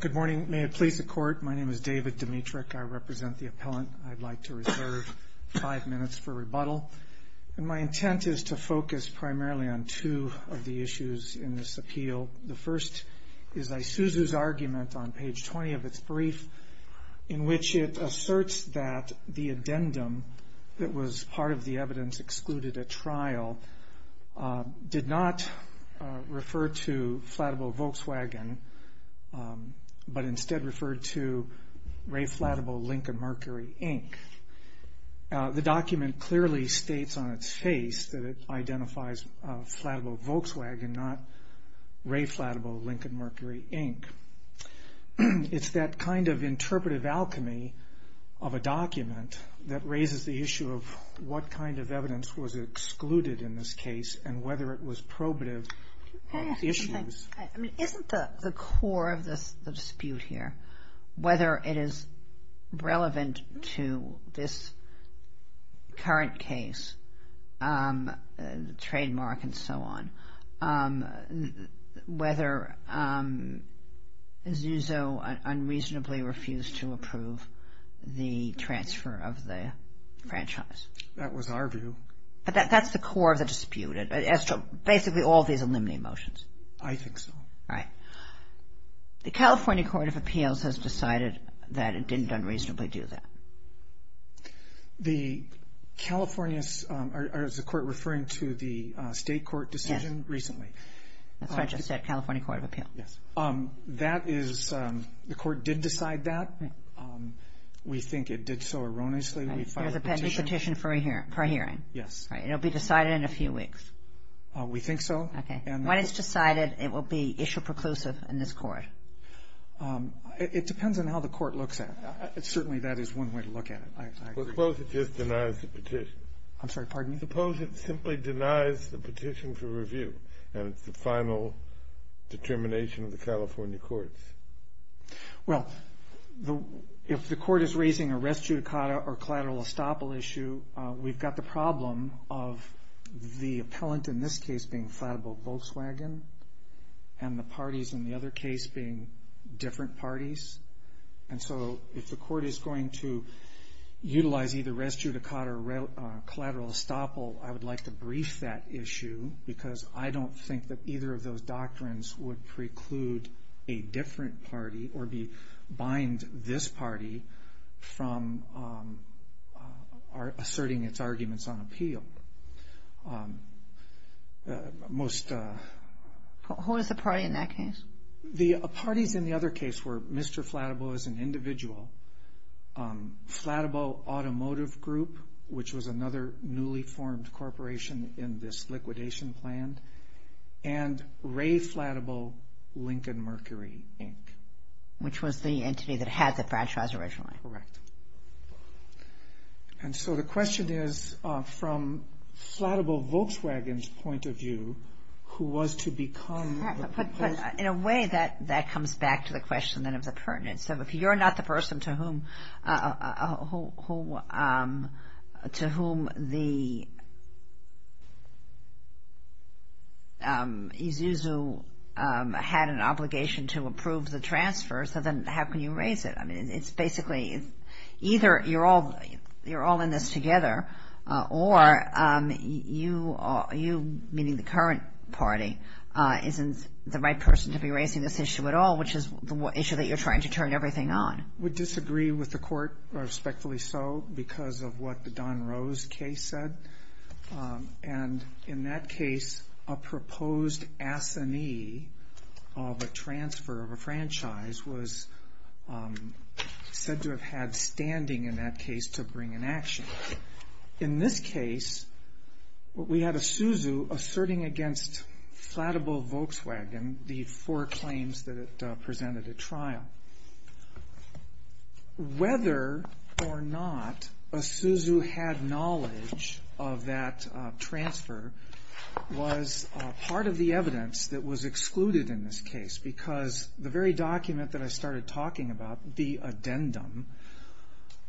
Good morning. May it please the Court, my name is David Dimitrick. I represent the appellant. I'd like to reserve five minutes for rebuttal and my intent is to focus primarily on two of the issues in this appeal. The first is Isuzu's argument on page 20 of its brief in which it asserts that the addendum that was part of the evidence excluded at trial did not refer to Fladeboe Volkswagen, but instead referred to Ray Fladeboe Lincoln Mercury, Inc. The document clearly states on its face that it identifies Fladeboe Volkswagen, not Ray Fladeboe Lincoln Mercury, Inc. It's that kind of interpretive alchemy of a document that raises the issue of what kind of evidence was excluded in this case. Isn't the core of the dispute here whether it is relevant to this current case, the trademark and so on, whether Isuzu unreasonably refused to approve the transfer of the franchise? That was our view. But that's the core of the The California Court of Appeals has decided that it didn't unreasonably do that. The California, or is the court referring to the state court decision recently? That's what I just said, California Court of Appeals. That is, the court did decide that. We think it did so erroneously. There's a pending petition for a hearing? Yes. It'll be decided in a few weeks? We think so. Okay. When it's decided, it will be issue preclusive in this court? It depends on how the court looks at it. Certainly, that is one way to look at it. I suppose it just denies the petition. I'm sorry, pardon me? Suppose it simply denies the petition for review, and it's the final determination of the California courts. Well, if the court is raising a res judicata or collateral estoppel issue, we've got the and the parties in the other case being different parties. And so, if the court is going to utilize either res judicata or collateral estoppel, I would like to brief that issue because I don't think that either of those doctrines would preclude a different party or bind this party from asserting its arguments on Who is the party in that case? The parties in the other case were Mr. Flattable as an individual, Flattable Automotive Group, which was another newly formed corporation in this liquidation plan, and Ray Flattable, Lincoln Mercury, Inc. Which was the entity that had the franchise originally? Correct. And so the question is, from Flattable Volkswagen's point of view, who was to become the person? In a way, that comes back to the question, then, of the pertinence. So if you're not the person to whom the Isuzu had an obligation to approve the transfer, so then how can you raise it? I mean, it's basically either you're all in this together, or you, meaning the current party, isn't the right person to be raising this issue at all, which is the issue that you're trying to turn everything on. We disagree with the court, respectfully so, because of what the Don Rose case said. And in that case, a proposed assignee of a transfer of a franchise was said to have had standing in that case to bring an action. In this case, we had Isuzu asserting against Flattable Volkswagen, the four claims that it was part of the evidence that was excluded in this case, because the very document that I started talking about, the addendum,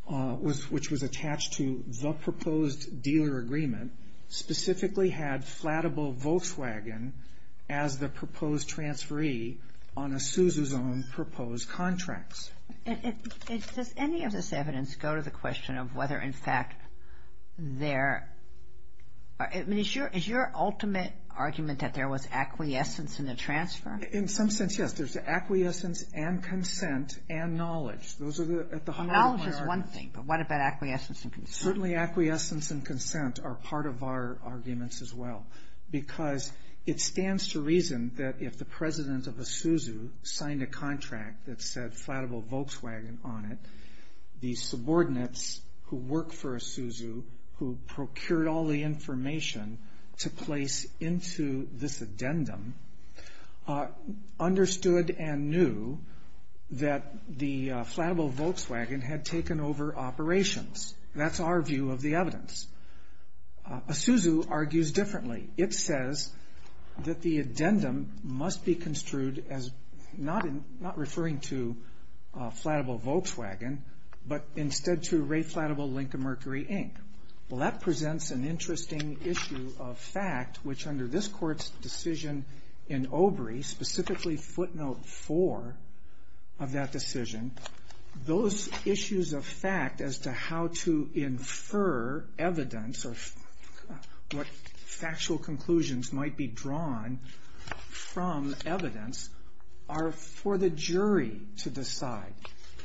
which was attached to the proposed dealer agreement, specifically had Flattable Volkswagen as the proposed transferee on Isuzu's own proposed contracts. And does any of this evidence go to the question of whether, in fact, is your ultimate argument that there was acquiescence in the transfer? In some sense, yes, there's acquiescence and consent and knowledge. Knowledge is one thing, but what about acquiescence and consent? Certainly, acquiescence and consent are part of our arguments as well, because it stands to reason that if the president of Isuzu signed a contract that said Flattable Volkswagen on it, the subordinates who work for Isuzu, who procured all the information to place into this addendum, understood and knew that the Flattable Volkswagen had taken over operations. That's our view of the evidence. Isuzu argues differently. It says that the addendum must be construed as not referring to Flattable Volkswagen, but instead to Ray Flattable Lincoln Mercury, Inc. Well, that presents an interesting issue of fact, which under this court's decision in Obrey, specifically footnote four of that decision, those issues of conclusions might be drawn from evidence are for the jury to decide,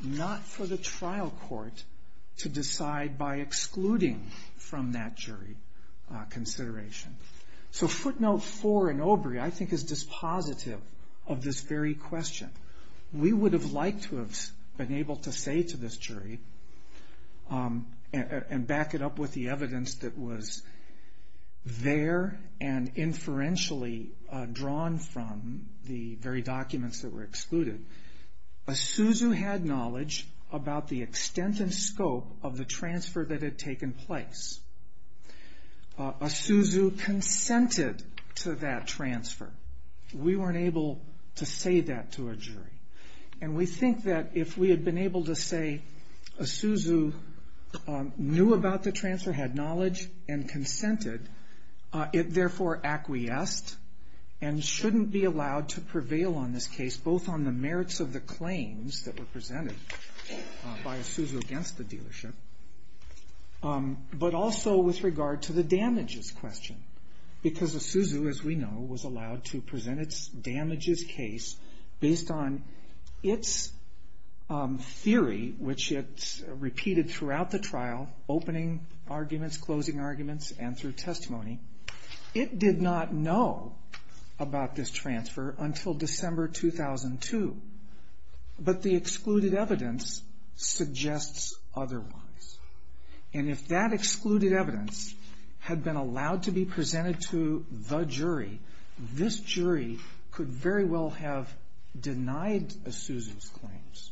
not for the trial court to decide by excluding from that jury consideration. So footnote four in Obrey, I think, is dispositive of this very question. We would have liked to have been able to say to this jury, and back it up with the evidence that was there and inferentially drawn from the very documents that were excluded, Isuzu had knowledge about the extent and scope of the transfer that had taken place. Isuzu consented to that transfer. We weren't able to say that to a jury. And we think that if we had been able to say Isuzu knew about the transfer, had knowledge and consented, it therefore acquiesced and shouldn't be allowed to prevail on this case, both on the merits of the claims that were presented by Isuzu against the dealership, but also with regard to the damages question, because Isuzu, as we know, was allowed to present its damages case based on its theory, which it repeated throughout the trial, opening arguments, closing arguments, and through testimony. It did not know about this transfer until December 2002. But the excluded evidence suggests otherwise. And if that excluded evidence had been allowed to be presented to the jury, this jury could very well have denied Isuzu's claims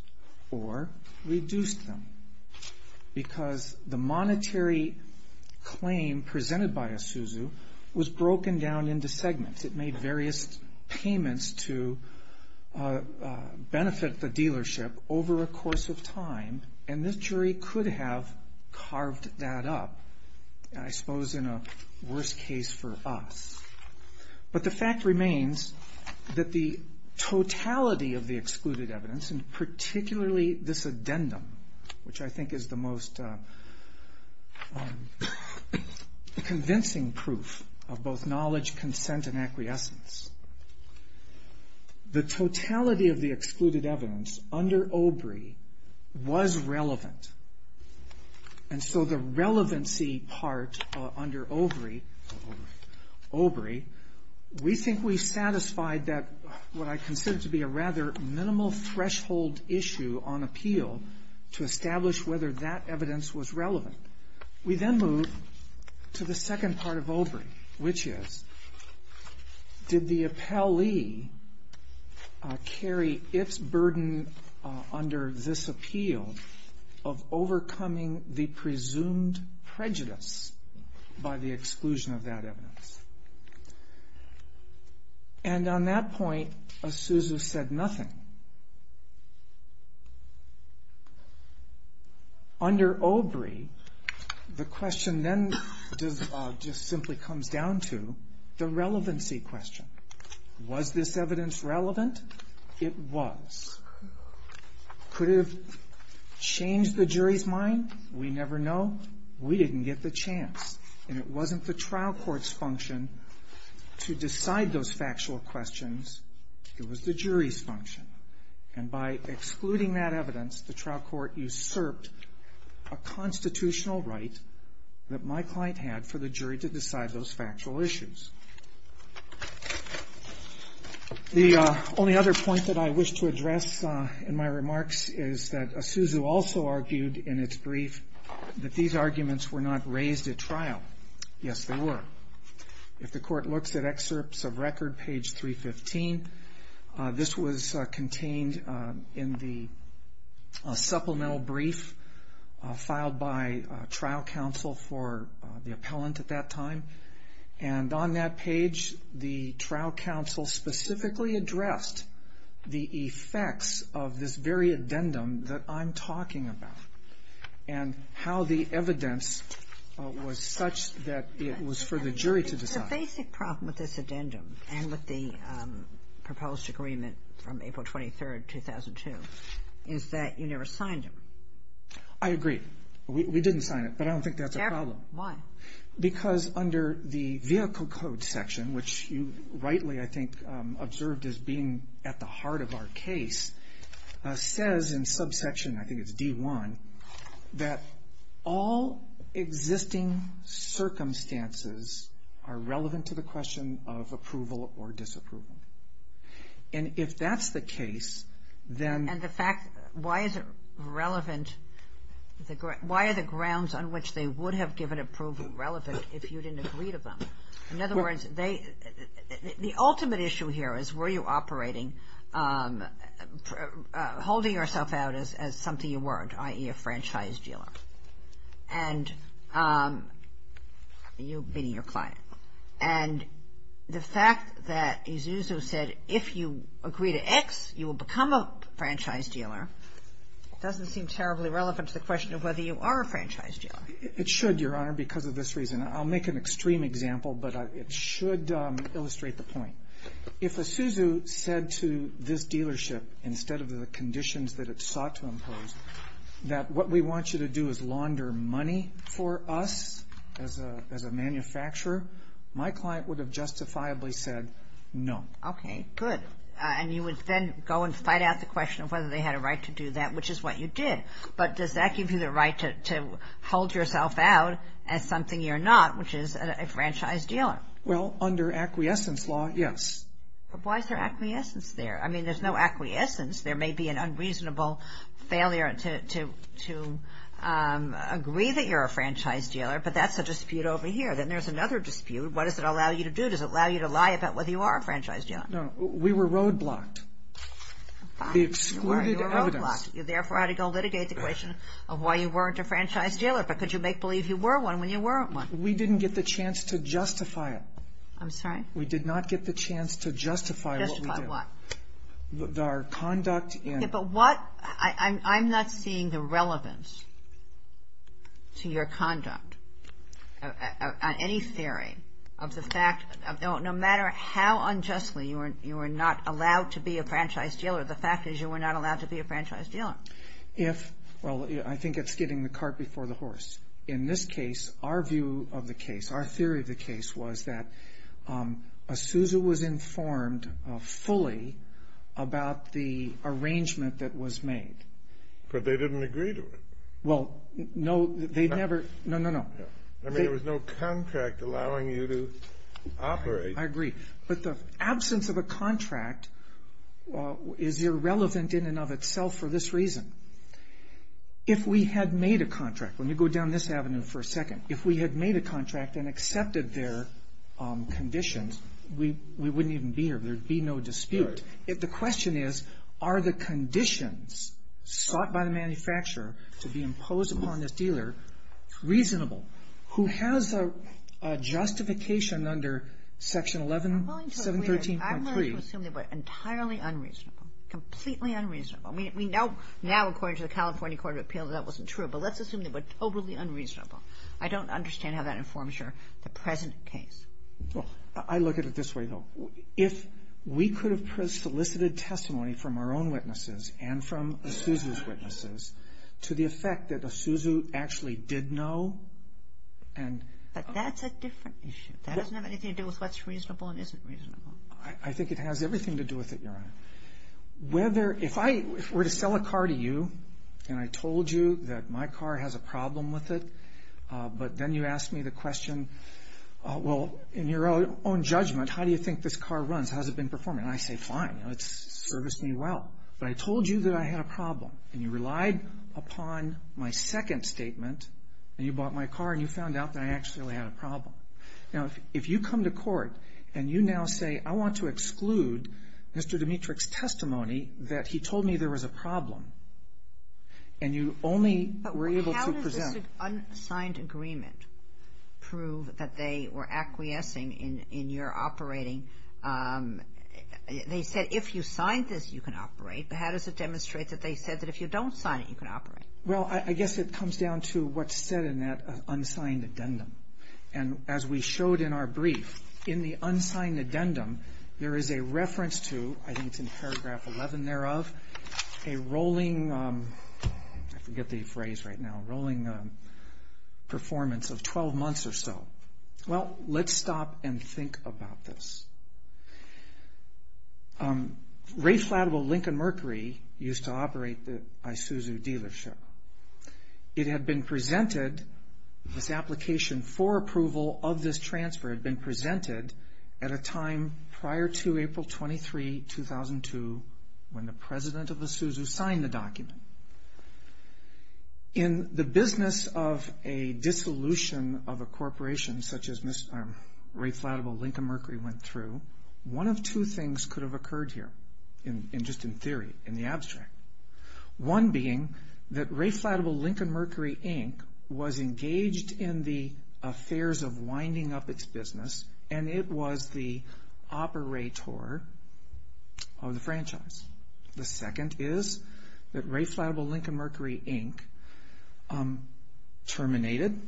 or reduced them, because the monetary claim presented by Isuzu was broken down into segments. It made various payments to benefit the dealership over a course of time, and this jury could have carved that up, I suppose, in a worse case for us. But the fact remains that the totality of the excluded evidence, and particularly this addendum, which I think is the most convincing proof of both knowledge, consent, and acquiescence, the totality of the excluded evidence under OBRI was relevant. And so the relevancy part under OBRI, we think we satisfied that what I consider to be a rather minimal threshold issue on appeal to establish whether that evidence was relevant. We then move to the second part of OBRI, which is, did the appellee carry its of overcoming the presumed prejudice by the exclusion of that evidence? And on that point, Isuzu said nothing. Under OBRI, the question then just simply comes down to the relevancy question. Was this evidence relevant? It was. Could it have changed the jury's mind? We never know. We didn't get the chance. And it wasn't the trial court's function to decide those factual questions. It was the jury's function. And by excluding that evidence, the trial court usurped a constitutional right that my client had for the jury to decide those factual issues. The only other point that I wish to address in my remarks is that Isuzu also argued in its brief that these arguments were not raised at trial. Yes, they were. If the court looks at excerpts of record, page 315, this was contained in the supplemental brief filed by trial counsel for the appellant at that time. And on that page, the trial counsel specifically addressed the effects of this very addendum that I'm talking about and how the evidence was such that it was for the jury to decide. The basic problem with this addendum and with the proposed agreement from April 23rd, 2002, is that you never signed it. I agree. We didn't sign it, but I don't think that's a problem. Why? Because under the Vehicle Code section, which you rightly, I think, observed as being at the heart of our case, says in subsection, I think it's D1, that all existing circumstances are relevant to the question of approval or disapproval. And if that's the case, then And the fact, why is it relevant? Why are the grounds on which they would have given approval relevant if you didn't agree to them? In other words, the ultimate issue here is, were you operating, holding yourself out as something you weren't, i.e., a franchise dealer? And you being your client. And the fact that Isuzu said, if you agree to X, you will become a franchise dealer, doesn't seem terribly relevant to the question of whether you are a franchise dealer. It should, Your Honor, because of this reason. I'll make an extreme example, but it should illustrate the point. If Isuzu said to this dealership, instead of the conditions that it sought to impose, that what we want you to do is launder money for us as a manufacturer, my client would have justifiably said no. Okay, good. And you would then go and fight out the question of whether they had a right to do that, which is what you did. But does that give you the right to hold yourself out as something you're not, which is a franchise dealer? Well, under acquiescence law, yes. But why is there acquiescence there? I mean, there's no acquiescence. There may be an unreasonable failure to agree that you're a franchise dealer, but that's a dispute over here. Then there's another dispute. What does it allow you to do? Does it allow you to lie about whether you are a franchise dealer? No, we were roadblocked. The excluded evidence. You therefore had to go litigate the question of why you weren't a franchise dealer, but could you make believe you were one when you weren't one? We didn't get the chance to justify it. I'm sorry? We did not get the chance to justify what we did. Justify what? Our conduct in. Yeah, but what, I'm not seeing the relevance to your conduct on any theory of the you were not allowed to be a franchise dealer. The fact is you were not allowed to be a franchise dealer. If, well, I think it's getting the cart before the horse. In this case, our view of the case, our theory of the case was that a Sousa was informed fully about the arrangement that was made. But they didn't agree to it. Well, no, they'd never. No, no, no. I mean, there was no contract allowing you to operate. I agree. But the absence of a contract is irrelevant in and of itself for this reason. If we had made a contract, when you go down this avenue for a second, if we had made a contract and accepted their conditions, we wouldn't even be here. There'd be no dispute. If the question is, are the conditions sought by the manufacturer to be imposed upon this dealer reasonable, who has a justification under Section 11, 713.3. I'm going to assume they were entirely unreasonable, completely unreasonable. I mean, we know now, according to the California Court of Appeals, that wasn't true, but let's assume they were totally unreasonable. I don't understand how that informs your present case. Well, I look at it this way, though. If we could have solicited testimony from our own witnesses and from a Sousa's to the effect that a Sousa actually did know. And that's a different issue. That doesn't have anything to do with what's reasonable and isn't reasonable. I think it has everything to do with it, Your Honor. Whether, if I were to sell a car to you and I told you that my car has a problem with it, but then you asked me the question, well, in your own judgment, how do you think this car runs? How's it been performing? And I say, fine, it's serviced me well, but I told you that I had a problem and you relied upon my second statement and you bought my car and you found out that I actually had a problem. Now, if you come to court and you now say, I want to exclude Mr. Dimitrich's testimony that he told me there was a problem and you only were able to presume. But how does this unsigned agreement prove that they were acquiescing in your operating? They said if you signed this, you can operate, but how does it demonstrate that they said that if you don't sign it, you can operate? Well, I guess it comes down to what's said in that unsigned addendum. And as we showed in our brief, in the unsigned addendum, there is a reference to, I think it's in paragraph 11 thereof, a rolling, I forget the phrase right now, rolling performance of 12 months or so. Well, let's stop and think about this. Ray Flattable Lincoln Mercury used to operate the Isuzu dealership. It had been presented, this application for approval of this transfer had been presented at a time prior to April 23, 2002, when the president of Isuzu signed the document. In the business of a dissolution of a corporation such as Ray Flattable Lincoln Mercury went through, one of two things could have occurred here, just in theory, in the abstract. One being that Ray Flattable Lincoln Mercury Inc. was engaged in the affairs of winding up its business, and it was the operator of the franchise. The second is that Ray Flattable Lincoln Mercury Inc. terminated,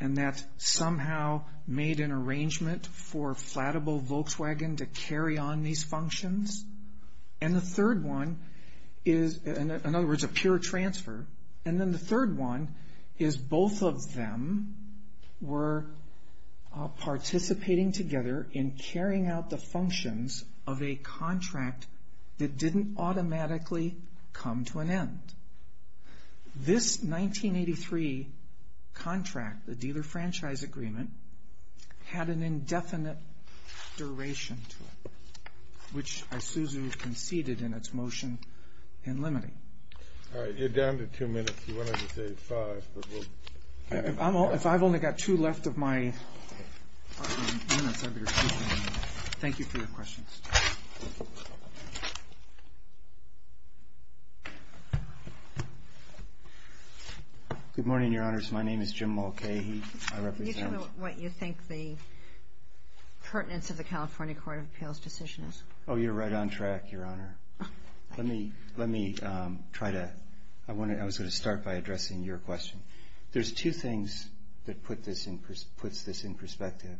and that somehow made an arrangement for Flattable Volkswagen to carry on these functions. And the third one is, in other words, a pure transfer. And then the third one is both of them were participating together in carrying out the functions of a contract that didn't automatically come to an end. This 1983 contract, the dealer franchise agreement, had an indefinite duration to it, which Isuzu conceded in its motion in limiting. All right, you're down to two minutes. You wanted to say five, but we'll... If I've only got two left of my minutes, I'd be excused. Thank you for your questions. Good morning, Your Honors. My name is Jim Mulcahy. I represent... Can you tell me what you think the pertinence of the California Court of Appeals decision is? Oh, you're right on track, Your Honor. Let me try to... I was going to start by addressing your question. There's two things that puts this in perspective.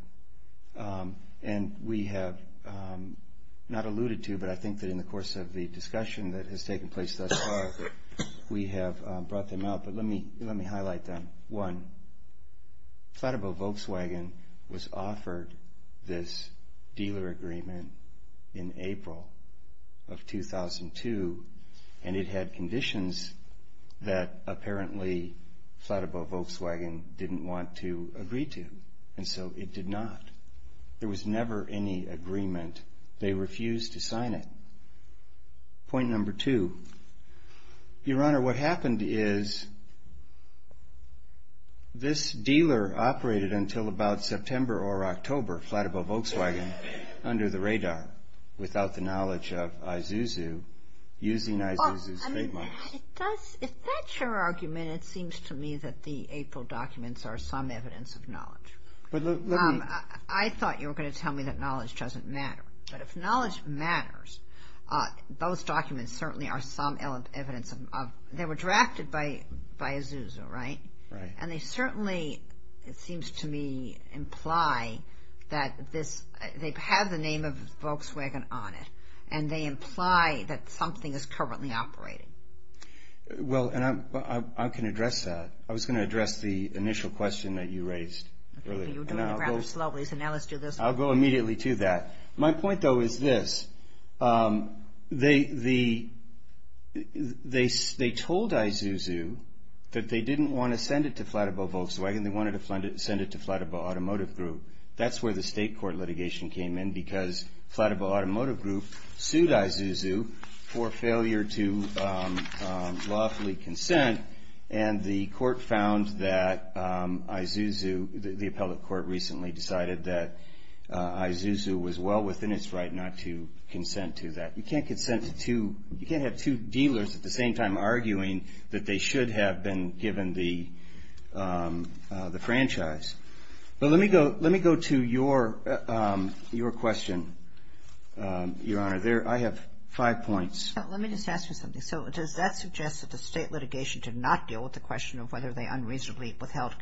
And we have not alluded to, but I think that in the course of the discussion that has we have brought them out. But let me highlight them. One, Flatabow Volkswagen was offered this dealer agreement in April of 2002, and it had conditions that apparently Flatabow Volkswagen didn't want to agree to. And so it did not. There was never any agreement. They refused to sign it. Point number two, Your Honor, what happened is this dealer operated until about September or October, Flatabow Volkswagen, under the radar, without the knowledge of Isuzu, using Isuzu's trademarks. If that's your argument, it seems to me that the April documents are some evidence of knowledge. I thought you were going to tell me that knowledge doesn't matter. But if knowledge matters, those documents certainly are some evidence. They were drafted by Isuzu, right? And they certainly, it seems to me, imply that they have the name of Volkswagen on it. And they imply that something is currently operating. Well, and I can address that. I was going to address the initial question that you raised earlier. You're doing it rather slowly, so now let's do this. I'll go immediately to that. My point, though, is this, they told Isuzu that they didn't want to send it to Flatabow Volkswagen. They wanted to send it to Flatabow Automotive Group. That's where the state court litigation came in because Flatabow Automotive Group sued Isuzu for failure to lawfully consent. And the court found that Isuzu, the appellate court recently decided that Isuzu was well within its right not to consent to that. You can't consent to, you can't have two dealers at the same time arguing that they should have been given the franchise. But let me go to your question, Your Honor. There, I have five points. Let me just ask you something. So does that suggest that the state litigation did not deal with the question of whether they unreasonably withheld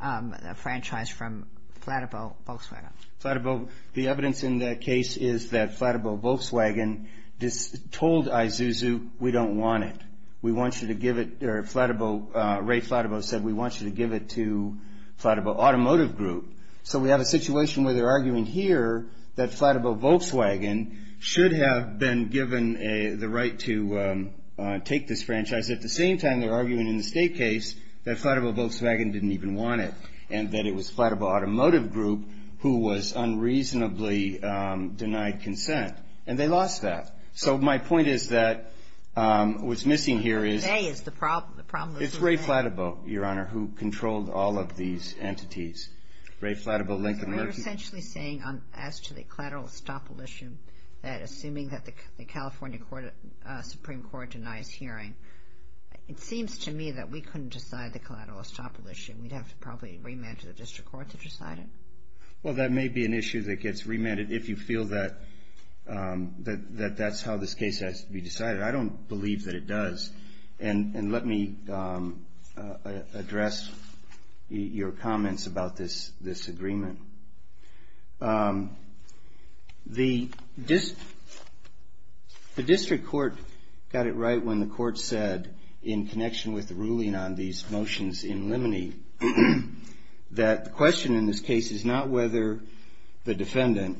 a franchise from Flatabow Volkswagen? Flatabow, the evidence in that case is that Flatabow Volkswagen told Isuzu, we don't want it. We want you to give it, or Flatabow, Ray Flatabow said, we want you to give it to Flatabow Automotive Group. So we have a situation where they're arguing here that Flatabow Volkswagen should have been given the right to take this franchise. At the same time, they're arguing in the state case that Flatabow Volkswagen didn't even want it, and that it was Flatabow Automotive Group who was unreasonably denied consent. And they lost that. So my point is that what's missing here is, it's Ray Flatabow, Your Honor, who controlled all of these entities. Ray Flatabow, Lincoln. We're essentially saying, as to the collateral estoppel issue, that assuming that the California Supreme Court denies hearing, it seems to me that we couldn't decide the collateral estoppel issue. We'd have to probably remand to the district court to decide it. Well, that may be an issue that gets remanded if you feel that that that's how this case has to be decided. I don't believe that it does. And let me address your comments about this agreement. The district court got it right when the court said, in connection with the ruling on these cases, that the question in this case is not whether the defendant,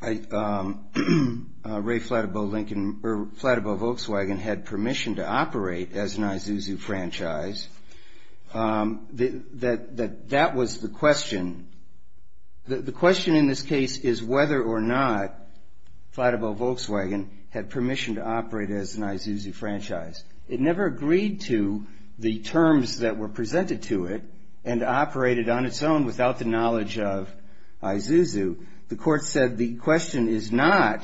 Ray Flatabow, Lincoln, or Flatabow Volkswagen, had permission to operate as an Isuzu franchise. That that was the question. The question in this case is whether or not Flatabow Volkswagen had permission to operate as an Isuzu franchise. It never agreed to the terms that were presented to it and operated on its own without the knowledge of Isuzu. The court said the question is not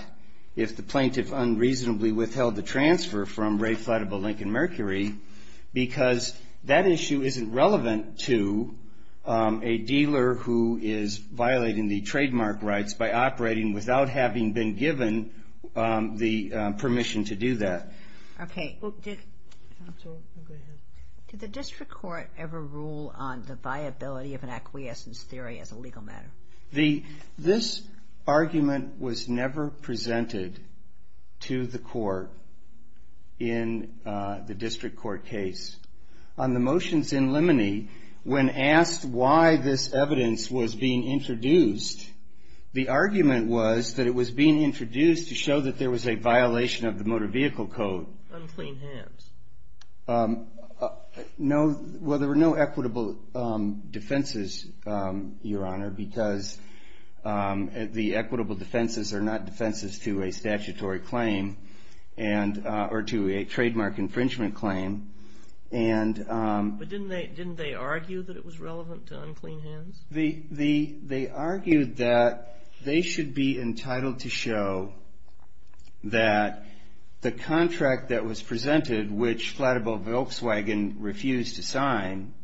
if the plaintiff unreasonably withheld the transfer from Ray Flatabow, Lincoln, Mercury, because that issue isn't relevant to a dealer who is violating the trademark rights by operating without having been given the permission to do that. Okay. Did the district court ever rule on the viability of an acquiescence theory as a legal matter? This argument was never presented to the court in the district court case. On the motions in Limoney, when asked why this evidence was being introduced, the argument was that it was being introduced to show that there was a violation of the vehicle code. Unclean hands. No. Well, there were no equitable defenses, Your Honor, because the equitable defenses are not defenses to a statutory claim and or to a trademark infringement claim. And. But didn't they didn't they argue that it was relevant to unclean hands? The the they argued that they should be entitled to show that the contract that was presented, which Flatabow Volkswagen refused to sign,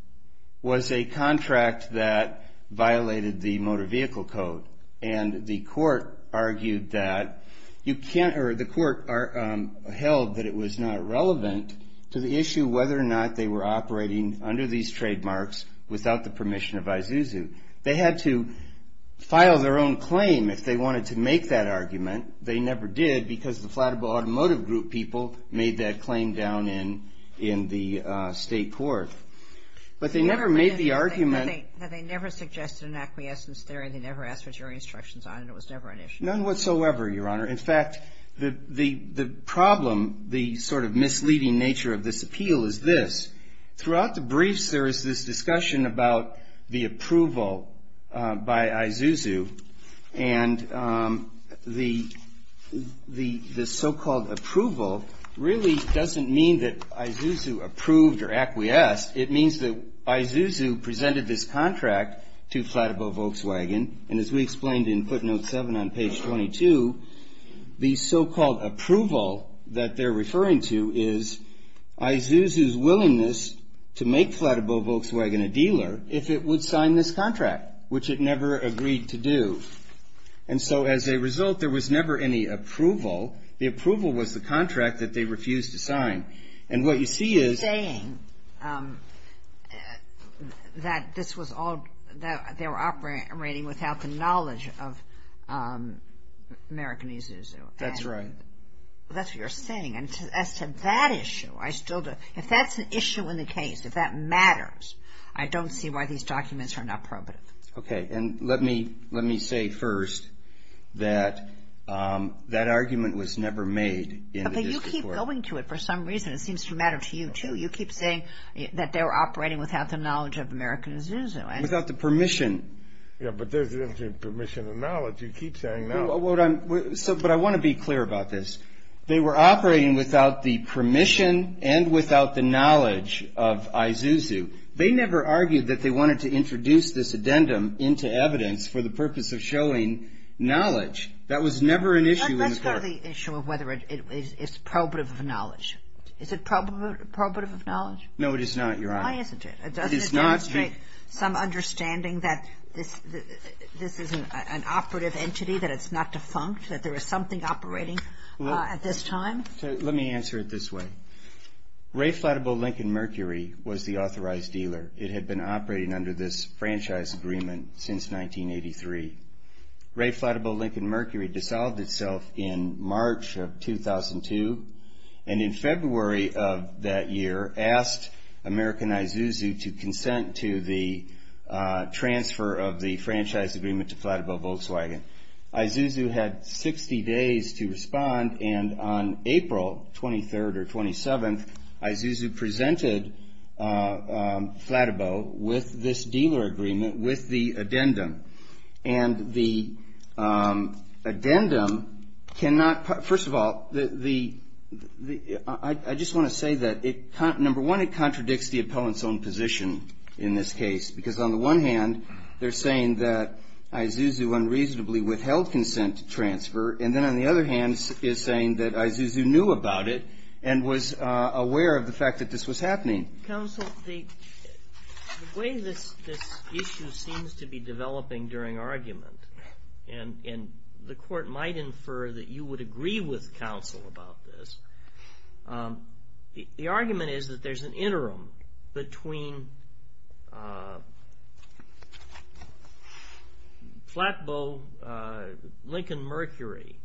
was a contract that violated the motor vehicle code. And the court argued that you can't or the court held that it was not relevant to the issue whether or not they were operating under these trademarks without the permission of Zuzu. They had to file their own claim if they wanted to make that argument. They never did, because the Flatabow Automotive Group people made that claim down in in the state court. But they never made the argument. They never suggested an acquiescence theory. They never asked for jury instructions on it. It was never an issue. None whatsoever, Your Honor. In fact, the the the problem, the sort of misleading nature of this appeal is this. Throughout the briefs, there is this discussion about the approval by IZUZU. And the the the so-called approval really doesn't mean that IZUZU approved or acquiesced. It means that IZUZU presented this contract to Flatabow Volkswagen. And as we explained in footnote 7 on page 22, the so-called approval that they're referring to is IZUZU's willingness to make Flatabow Volkswagen a dealer if it would sign this contract, which it never agreed to do. And so as a result, there was never any approval. The approval was the contract that they refused to sign. And what you see is. You're saying that this was all that they were operating without the knowledge of American IZUZU. That's right. That's what you're saying. And as to that issue, I still don't. If that's an issue in the case, if that matters, I don't see why these documents are not probative. OK. And let me let me say first that that argument was never made. But you keep going to it for some reason. It seems to matter to you, too. You keep saying that they were operating without the knowledge of American IZUZU. And without the permission. Yeah, but there's permission and knowledge. You keep saying that. So but I want to be clear about this. They were operating without the permission and without the knowledge of IZUZU. They never argued that they wanted to introduce this addendum into evidence for the purpose of showing knowledge. That was never an issue. That's not the issue of whether it is probative of knowledge. Is it probative of knowledge? No, it is not, Your Honor. Why isn't it? It is not. Some understanding that this is an operative entity, that it's not defunct, that there is something operating at this time. Let me answer it this way. Ray Flattable Lincoln Mercury was the authorized dealer. It had been operating under this franchise agreement since 1983. Ray Flattable Lincoln Mercury dissolved itself in March of 2002. And in February of that year, asked American IZUZU to consent to the transfer of the franchise agreement to Flattable Volkswagen. IZUZU had 60 days to respond. And on April 23rd or 27th, IZUZU presented Flattable with this dealer agreement with the addendum. And the addendum cannot, first of all, I just want to say that, number one, it contradicts the appellant's own position in this case. Because on the one hand, they're saying that IZUZU unreasonably withheld consent to transfer. And then on the other hand is saying that IZUZU knew about it and was aware of the fact that this was happening. Counsel, the way this issue seems to be developing during argument, and the court might infer that you would agree with counsel about this, the argument is that there's an interim between Flattable Lincoln Mercury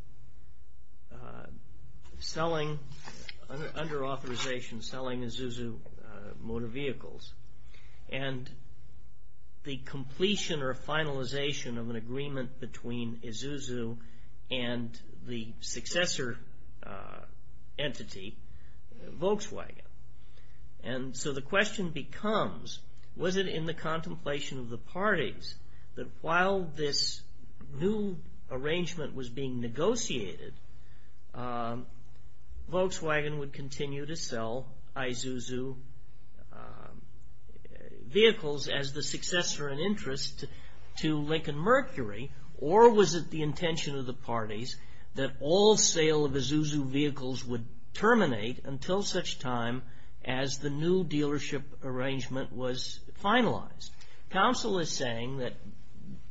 under authorization selling IZUZU motor vehicles and the completion or finalization of an agreement between IZUZU and the And so the question becomes, was it in the contemplation of the parties that while this new arrangement was being negotiated, Volkswagen would continue to sell IZUZU vehicles as the successor and interest to Lincoln Mercury? Or was it the intention of the parties that all sale of IZUZU vehicles would terminate until such time as the new dealership arrangement was finalized? Counsel is saying that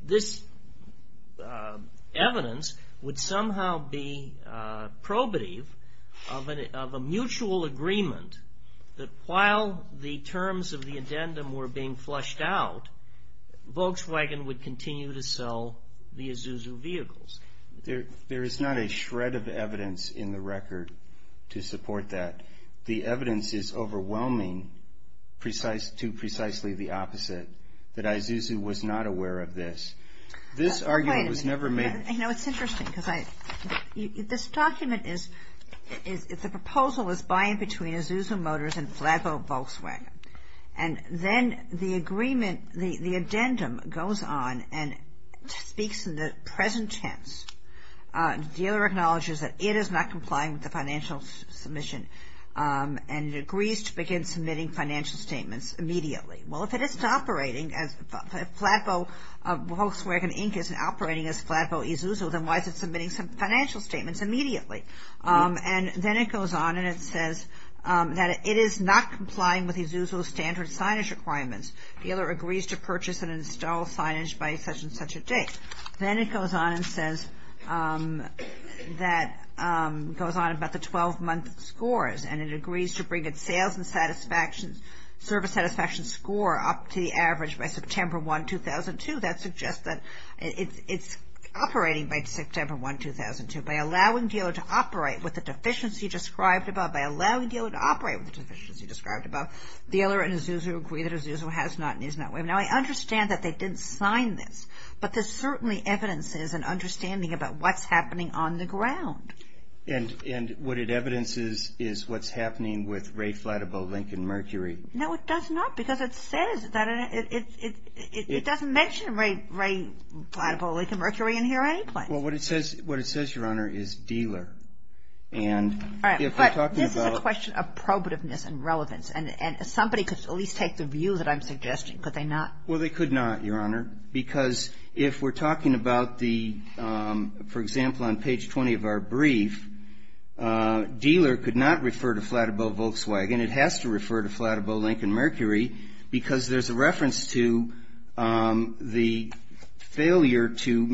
this evidence would somehow be probative of a mutual agreement that while the terms of the addendum were being flushed out, Volkswagen would continue to sell the IZUZU vehicles. There is not a shred of evidence in the record to support that. The evidence is overwhelming to precisely the opposite, that IZUZU was not aware of this. This argument was never made. I know it's interesting because this document is, it's a proposal is buying between IZUZU motors and Flattable Volkswagen, and then the agreement, the addendum goes on and speaks in the present tense, dealer acknowledges that it is not complying with the financial submission and agrees to begin submitting financial statements immediately. Well, if it isn't operating as Flattable Volkswagen Inc. isn't operating as Flattable IZUZU, then why is it submitting some financial statements immediately? And then it goes on and it says that it is not complying with IZUZU standard signage requirements. Dealer agrees to purchase and install signage by such and such a date. Then it goes on and says that, goes on about the 12 month scores and it agrees to bring its sales and satisfaction, service satisfaction score up to the average by September 1, 2002. That suggests that it's operating by September 1, 2002. By allowing dealer to operate with the deficiency described above, by allowing dealer to operate with the deficiency described above, dealer and IZUZU agree that IZUZU has not and is not waiving. Now, I understand that they didn't sign this, but there's certainly evidence is and understanding about what's happening on the ground. And what it evidences is what's happening with Ray Flattable Lincoln Mercury. No, it does not, because it says that it doesn't mention Ray Flattable Lincoln Mercury in here or any place. Well, what it says, what it says, Your Honor, is dealer. And if we're talking about. All right, but this is a question of probativeness and relevance. And somebody could at least take the view that I'm suggesting, could they not? Well, they could not, Your Honor, because if we're talking about the, for example, on page 20 of our brief, dealer could not refer to Flattable Volkswagen. It has to refer to Flattable Lincoln Mercury because there's a reference to the failure to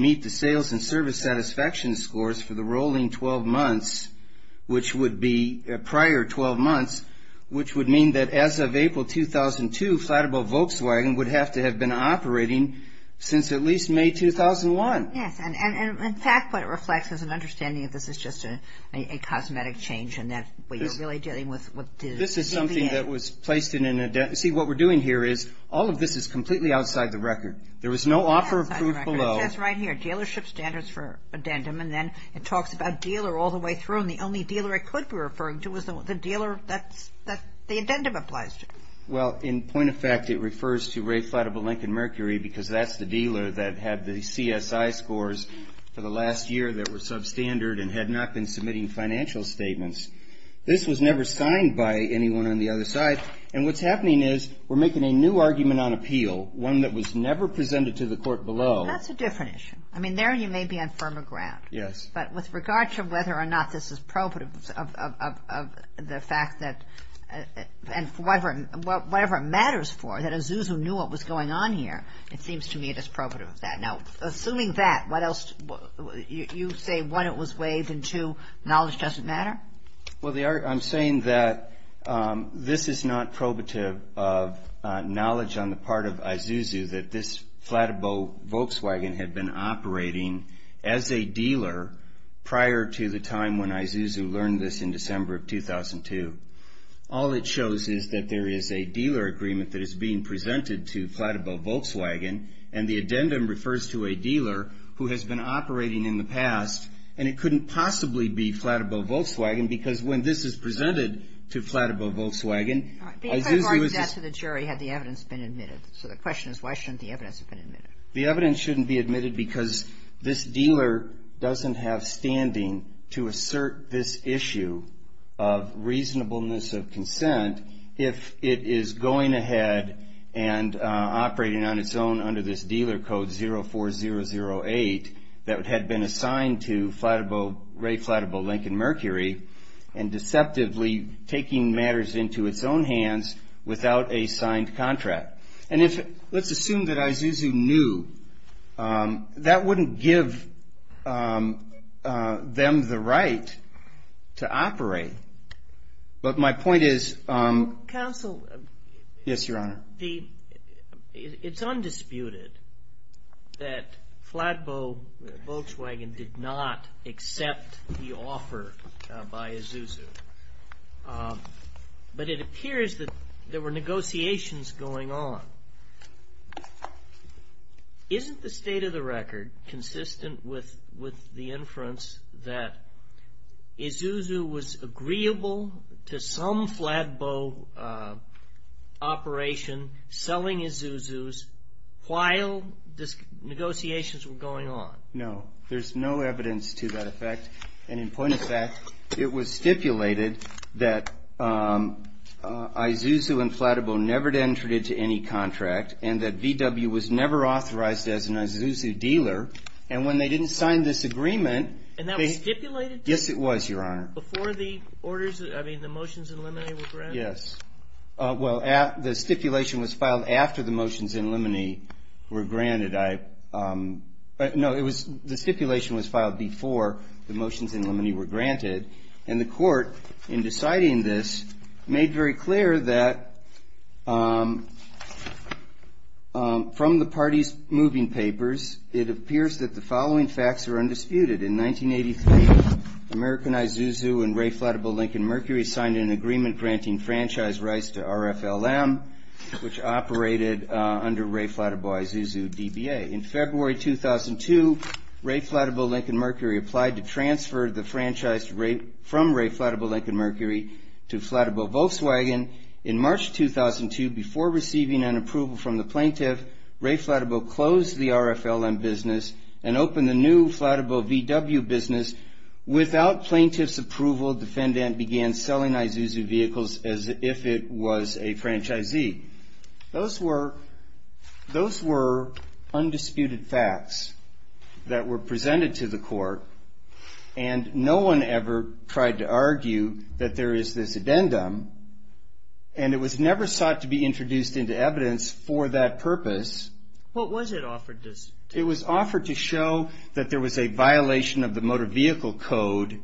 which would be prior 12 months, which would mean that as of April 2002, Flattable Volkswagen would have to have been operating since at least May 2001. Yes. And in fact, what it reflects is an understanding of this is just a cosmetic change. And that's what you're really dealing with. This is something that was placed in an addendum. See, what we're doing here is all of this is completely outside the record. There was no offer of proof below. It says right here, dealership standards for addendum. And then it talks about dealer all the way through. And the only dealer I could be referring to was the dealer that the addendum applies to. Well, in point of fact, it refers to Ray Flattable Lincoln Mercury because that's the dealer that had the CSI scores for the last year that were substandard and had not been submitting financial statements. This was never signed by anyone on the other side. And what's happening is we're making a new argument on appeal, one that was never presented to the court below. That's a different issue. I mean, there you may be on firmer ground. Yes. But with regard to whether or not this is probative of the fact that and whatever it matters for, that Isuzu knew what was going on here, it seems to me it is probative of that. Now, assuming that, what else? You say, one, it was waived and two, knowledge doesn't matter? Well, I'm saying that this is not probative of knowledge on the part of Isuzu that this prior to the time when Isuzu learned this in December of 2002. All it shows is that there is a dealer agreement that is being presented to Flattable Volkswagen. And the addendum refers to a dealer who has been operating in the past. And it couldn't possibly be Flattable Volkswagen because when this is presented to Flattable Volkswagen, Isuzu was just the jury had the evidence been admitted. So the question is, why shouldn't the evidence have been admitted? The evidence shouldn't be admitted because this dealer doesn't have standing to assert this issue of reasonableness of consent if it is going ahead and operating on its own under this dealer code 04008 that had been assigned to Flattable, Ray Flattable Lincoln Mercury and deceptively taking matters into its own hands without a signed contract. And if let's assume that Isuzu knew that wouldn't give them the right to operate. But my point is counsel. Yes, Your Honor. It's undisputed that Flattable Volkswagen did not accept the offer by Isuzu. But it appears that there were negotiations going on. Isn't the state of the record consistent with the inference that Isuzu was agreeable to some Flattable operation selling Isuzu's while this negotiations were going on? No, there's no evidence to that effect. And in point of fact, it was stipulated that Isuzu and Flattable never entered into any contract and that VW was never authorized as an Isuzu dealer. And when they didn't sign this agreement. And that was stipulated? Yes, it was, Your Honor. Before the orders, I mean, the motions in limine were granted? Yes. Well, the stipulation was filed after the motions in limine were granted. I know it was the stipulation was filed before the motions in limine were granted. And the court in deciding this made very clear that from the party's moving papers, it appears that the following facts are undisputed. In 1983, American Isuzu and Ray Flattable Lincoln Mercury signed an agreement granting franchise rights to RFLM, which operated under Ray Flattable Isuzu DBA. In February 2002, Ray Flattable Lincoln Mercury applied to transfer the franchise rate from Ray Flattable Lincoln Mercury to Flattable Volkswagen. In March 2002, before receiving an approval from the plaintiff, Ray Flattable closed the RFLM business and opened the new Flattable VW business. Without plaintiff's approval, defendant began selling Isuzu vehicles as if it was a franchisee. Those were undisputed facts that were presented to the court, and no one ever tried to argue that there is this addendum. And it was never sought to be introduced into evidence for that purpose. What was it offered to us? It was offered to show that there was a violation of the motor vehicle code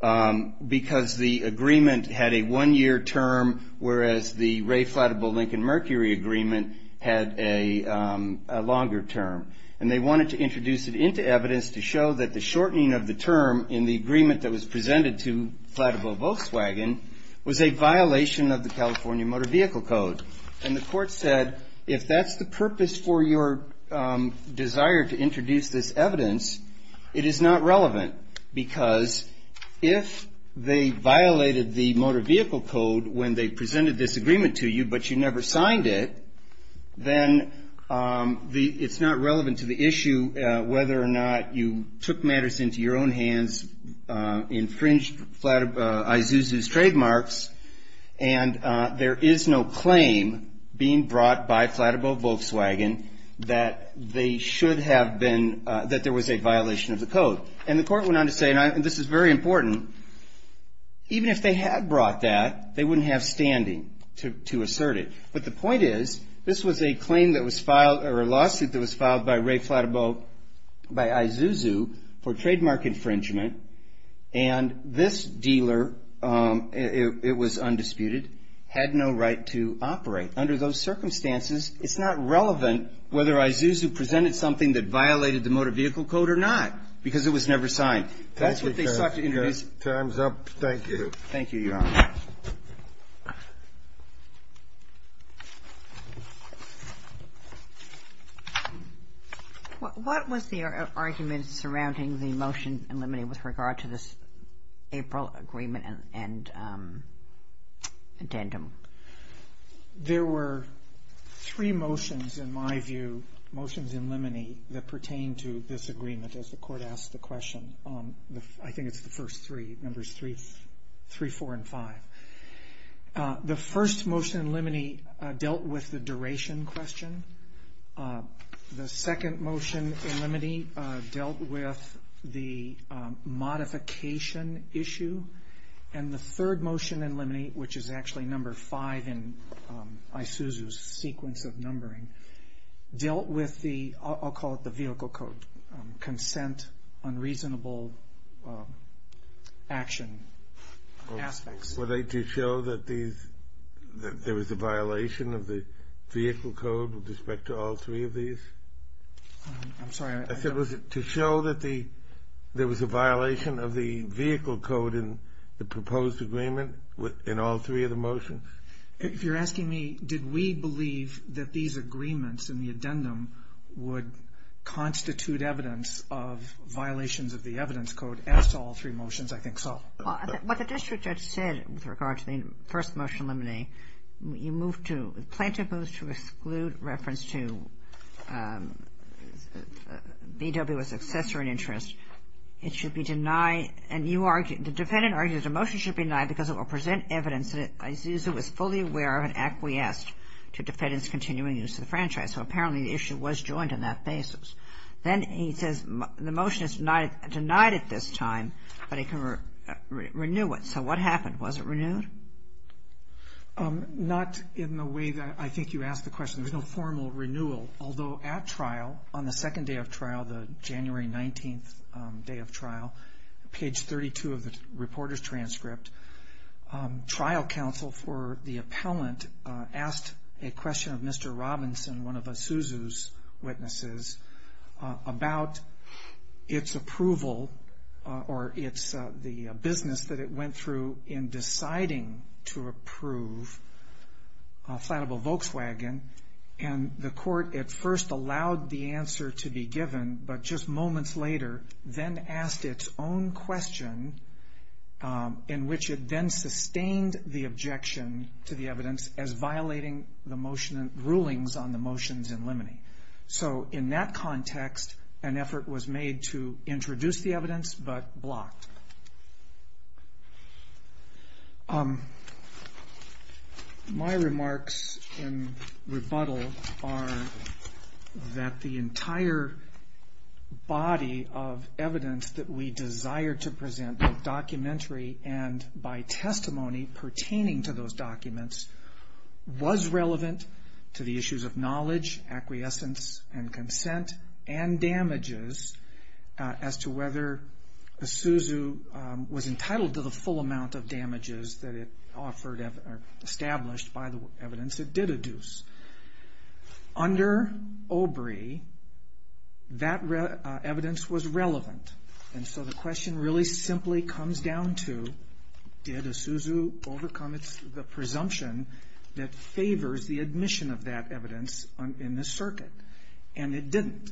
because the agreement had a one-year term, whereas the Ray Flattable Lincoln Mercury agreement had a longer term. And they wanted to introduce it into evidence to show that the shortening of the term in the agreement that was presented to Flattable Volkswagen was a violation of the California Motor Vehicle Code. And the court said, if that's the purpose for your desire to introduce this evidence, it is not relevant because if they violated the motor vehicle code when they presented this agreement to you, but you never signed it, then it's not relevant to the issue whether or not you took matters into your own hands, infringed Isuzu's trademarks, and there is no claim being brought by Flattable Volkswagen that they should have been, that there was a violation of the code. And the court went on to say, and this is very important, even if they had brought that, they wouldn't have standing to assert it. But the point is, this was a claim that was filed, or a lawsuit that was filed by Ray Flattable, by Isuzu for trademark infringement, and this dealer, it was undisputed, had no right to operate. Under those circumstances, it's not relevant whether Isuzu presented something that violated the motor vehicle code or not, because it was never signed. That's what they sought to introduce. The time's up. Thank you. Thank you, Your Honor. What was the argument surrounding the motion in limine with regard to this April agreement and addendum? There were three motions, in my view, motions in limine, that pertain to this agreement, as the court asked the question. I think it's the first three, numbers three, four, and five. The first motion in limine dealt with the duration question. The second motion in limine dealt with the modification issue. And the third motion in limine, which is actually number five in Isuzu's sequence of numbering, dealt with the, I'll call it the vehicle code, consent, unreasonable action aspects. Were they to show that there was a violation of the vehicle code with respect to all three of these? I'm sorry. I said, was it to show that there was a violation of the vehicle code in the proposed agreement in all three of the motions? If you're asking me, did we believe that these agreements in the addendum would constitute evidence of violations of the evidence code as to all three motions, I think so. What the district judge said with regard to the first motion in limine, you moved to, to exclude reference to VW as successor in interest. It should be denied. And you argue, the defendant argues the motion should be denied because it will present evidence that Isuzu was fully aware of and acquiesced to defendant's continuing use of the franchise. So apparently the issue was joined in that basis. Then he says the motion is denied at this time, but he can renew it. So what happened? Was it renewed? Not in the way that I think you asked the question. There's no formal renewal. Although at trial, on the second day of trial, the January 19th day of trial, page 32 of the reporter's transcript, trial counsel for the appellant asked a question of Mr. Robinson, one of Isuzu's witnesses, about its approval or its, the business that it went through in deciding to approve a flattable Volkswagen. And the court at first allowed the answer to be given, but just moments later then asked its own question in which it then sustained the objection to the evidence as violating the motion and rulings on the motions in limine. So in that context, an effort was made to introduce the evidence but blocked. My remarks in rebuttal are that the entire body of evidence that we desire to present both documentary and by testimony pertaining to those documents was relevant to the issues of knowledge, acquiescence, and consent and damages as to whether Isuzu was entitled to the full amount of damages that it offered or established by the evidence it did adduce. Under Obrey, that evidence was relevant and so the question really simply comes down to did Isuzu overcome the presumption that favors the admission of that evidence in this circuit and it didn't.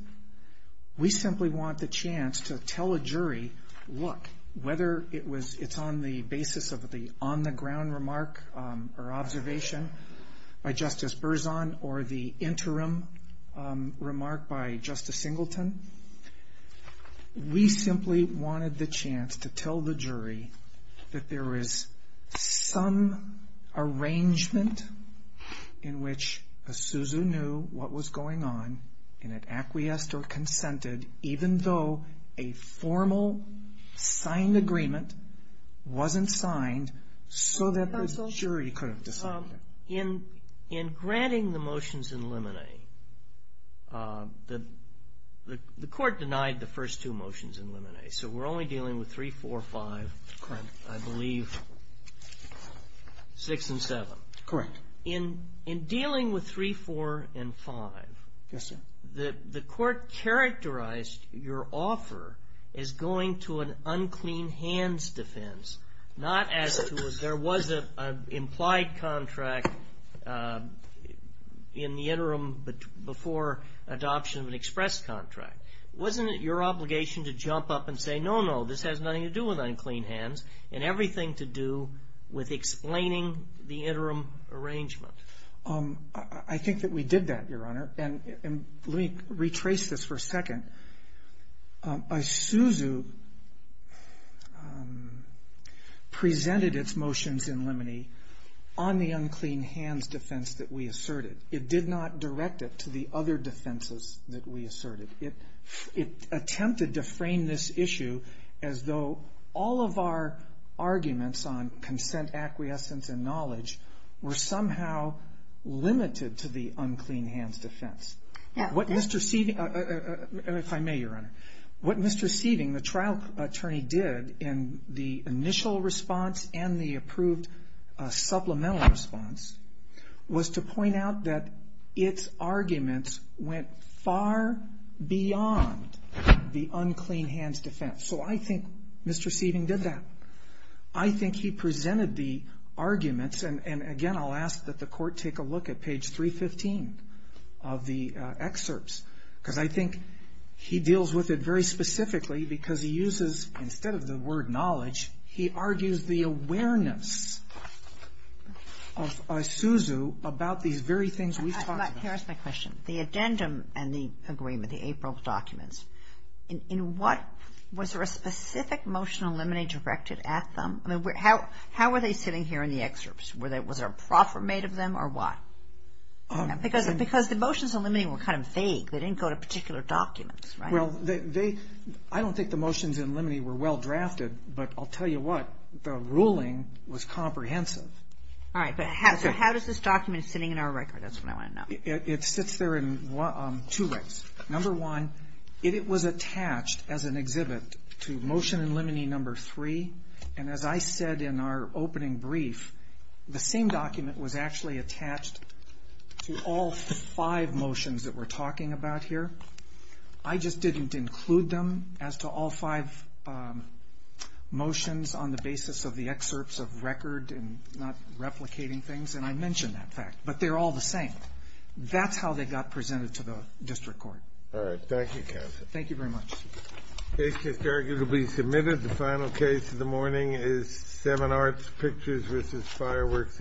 We simply want the chance to tell a jury, look, whether it's on the basis of the on-the-ground remark or observation by Justice Berzon or the interim remark by Justice Singleton. We simply wanted the chance to tell the jury that there is some arrangement in which Isuzu knew what was going on and had acquiesced or consented even though a formal signed agreement wasn't signed so that the jury could have decided. In granting the motions in limine, the court denied the first two motions in limine so we're only dealing with 3, 4, 5, I believe 6 and 7. Correct. In dealing with 3, 4, and 5, the court characterized your offer as going to an unclean hands defense, not as to if there was an implied contract in the interim before adoption of an express contract. Wasn't it your obligation to jump up and say, no, no, this has nothing to do with unclean hands and everything to do with explaining the interim arrangement? I think that we did that, Your Honor, and let me retrace this for a second. Isuzu presented its motions in limine on the unclean hands defense that we asserted. It did not direct it to the other defenses that we asserted. It attempted to frame this issue as though all of our arguments on consent, acquiescence, and knowledge were somehow limited to the unclean hands defense. What Mr. Seething, if I may, Your Honor, what Mr. Seething, the trial attorney, did in the initial response and the approved supplemental response was to point out that its argument went far beyond the unclean hands defense. So I think Mr. Seething did that. I think he presented the arguments, and again, I'll ask that the court take a look at page 315 of the excerpts, because I think he deals with it very specifically because he uses instead of the word knowledge, he argues the awareness of Isuzu about these very things we talked about. Let me ask my question. The addendum and the agreement, the April documents, in what was there a specific motion in limine directed at them? I mean, how were they sitting here in the excerpts? Was there a proffer made of them or what? Because the motions in limine were kind of vague. They didn't go to particular documents, right? Well, they, I don't think the motions in limine were well drafted, but I'll tell you what, the ruling was comprehensive. All right, but how does this document sitting in our record? That's what I want to know. It sits there in two ways. Number one, it was attached as an exhibit to motion in limine number three, and as I said in our opening brief, the same document was actually attached to all five motions that we're talking about here. I just didn't include them as to all five motions on the basis of the excerpts of record and not replicating things, and I mentioned that fact, but they're all the same. That's how they got presented to the district court. All right. Thank you, counsel. Thank you very much. It's just arguably submitted. The final case of the morning is Seven Arts Pictures v. Fireworks Entertainment.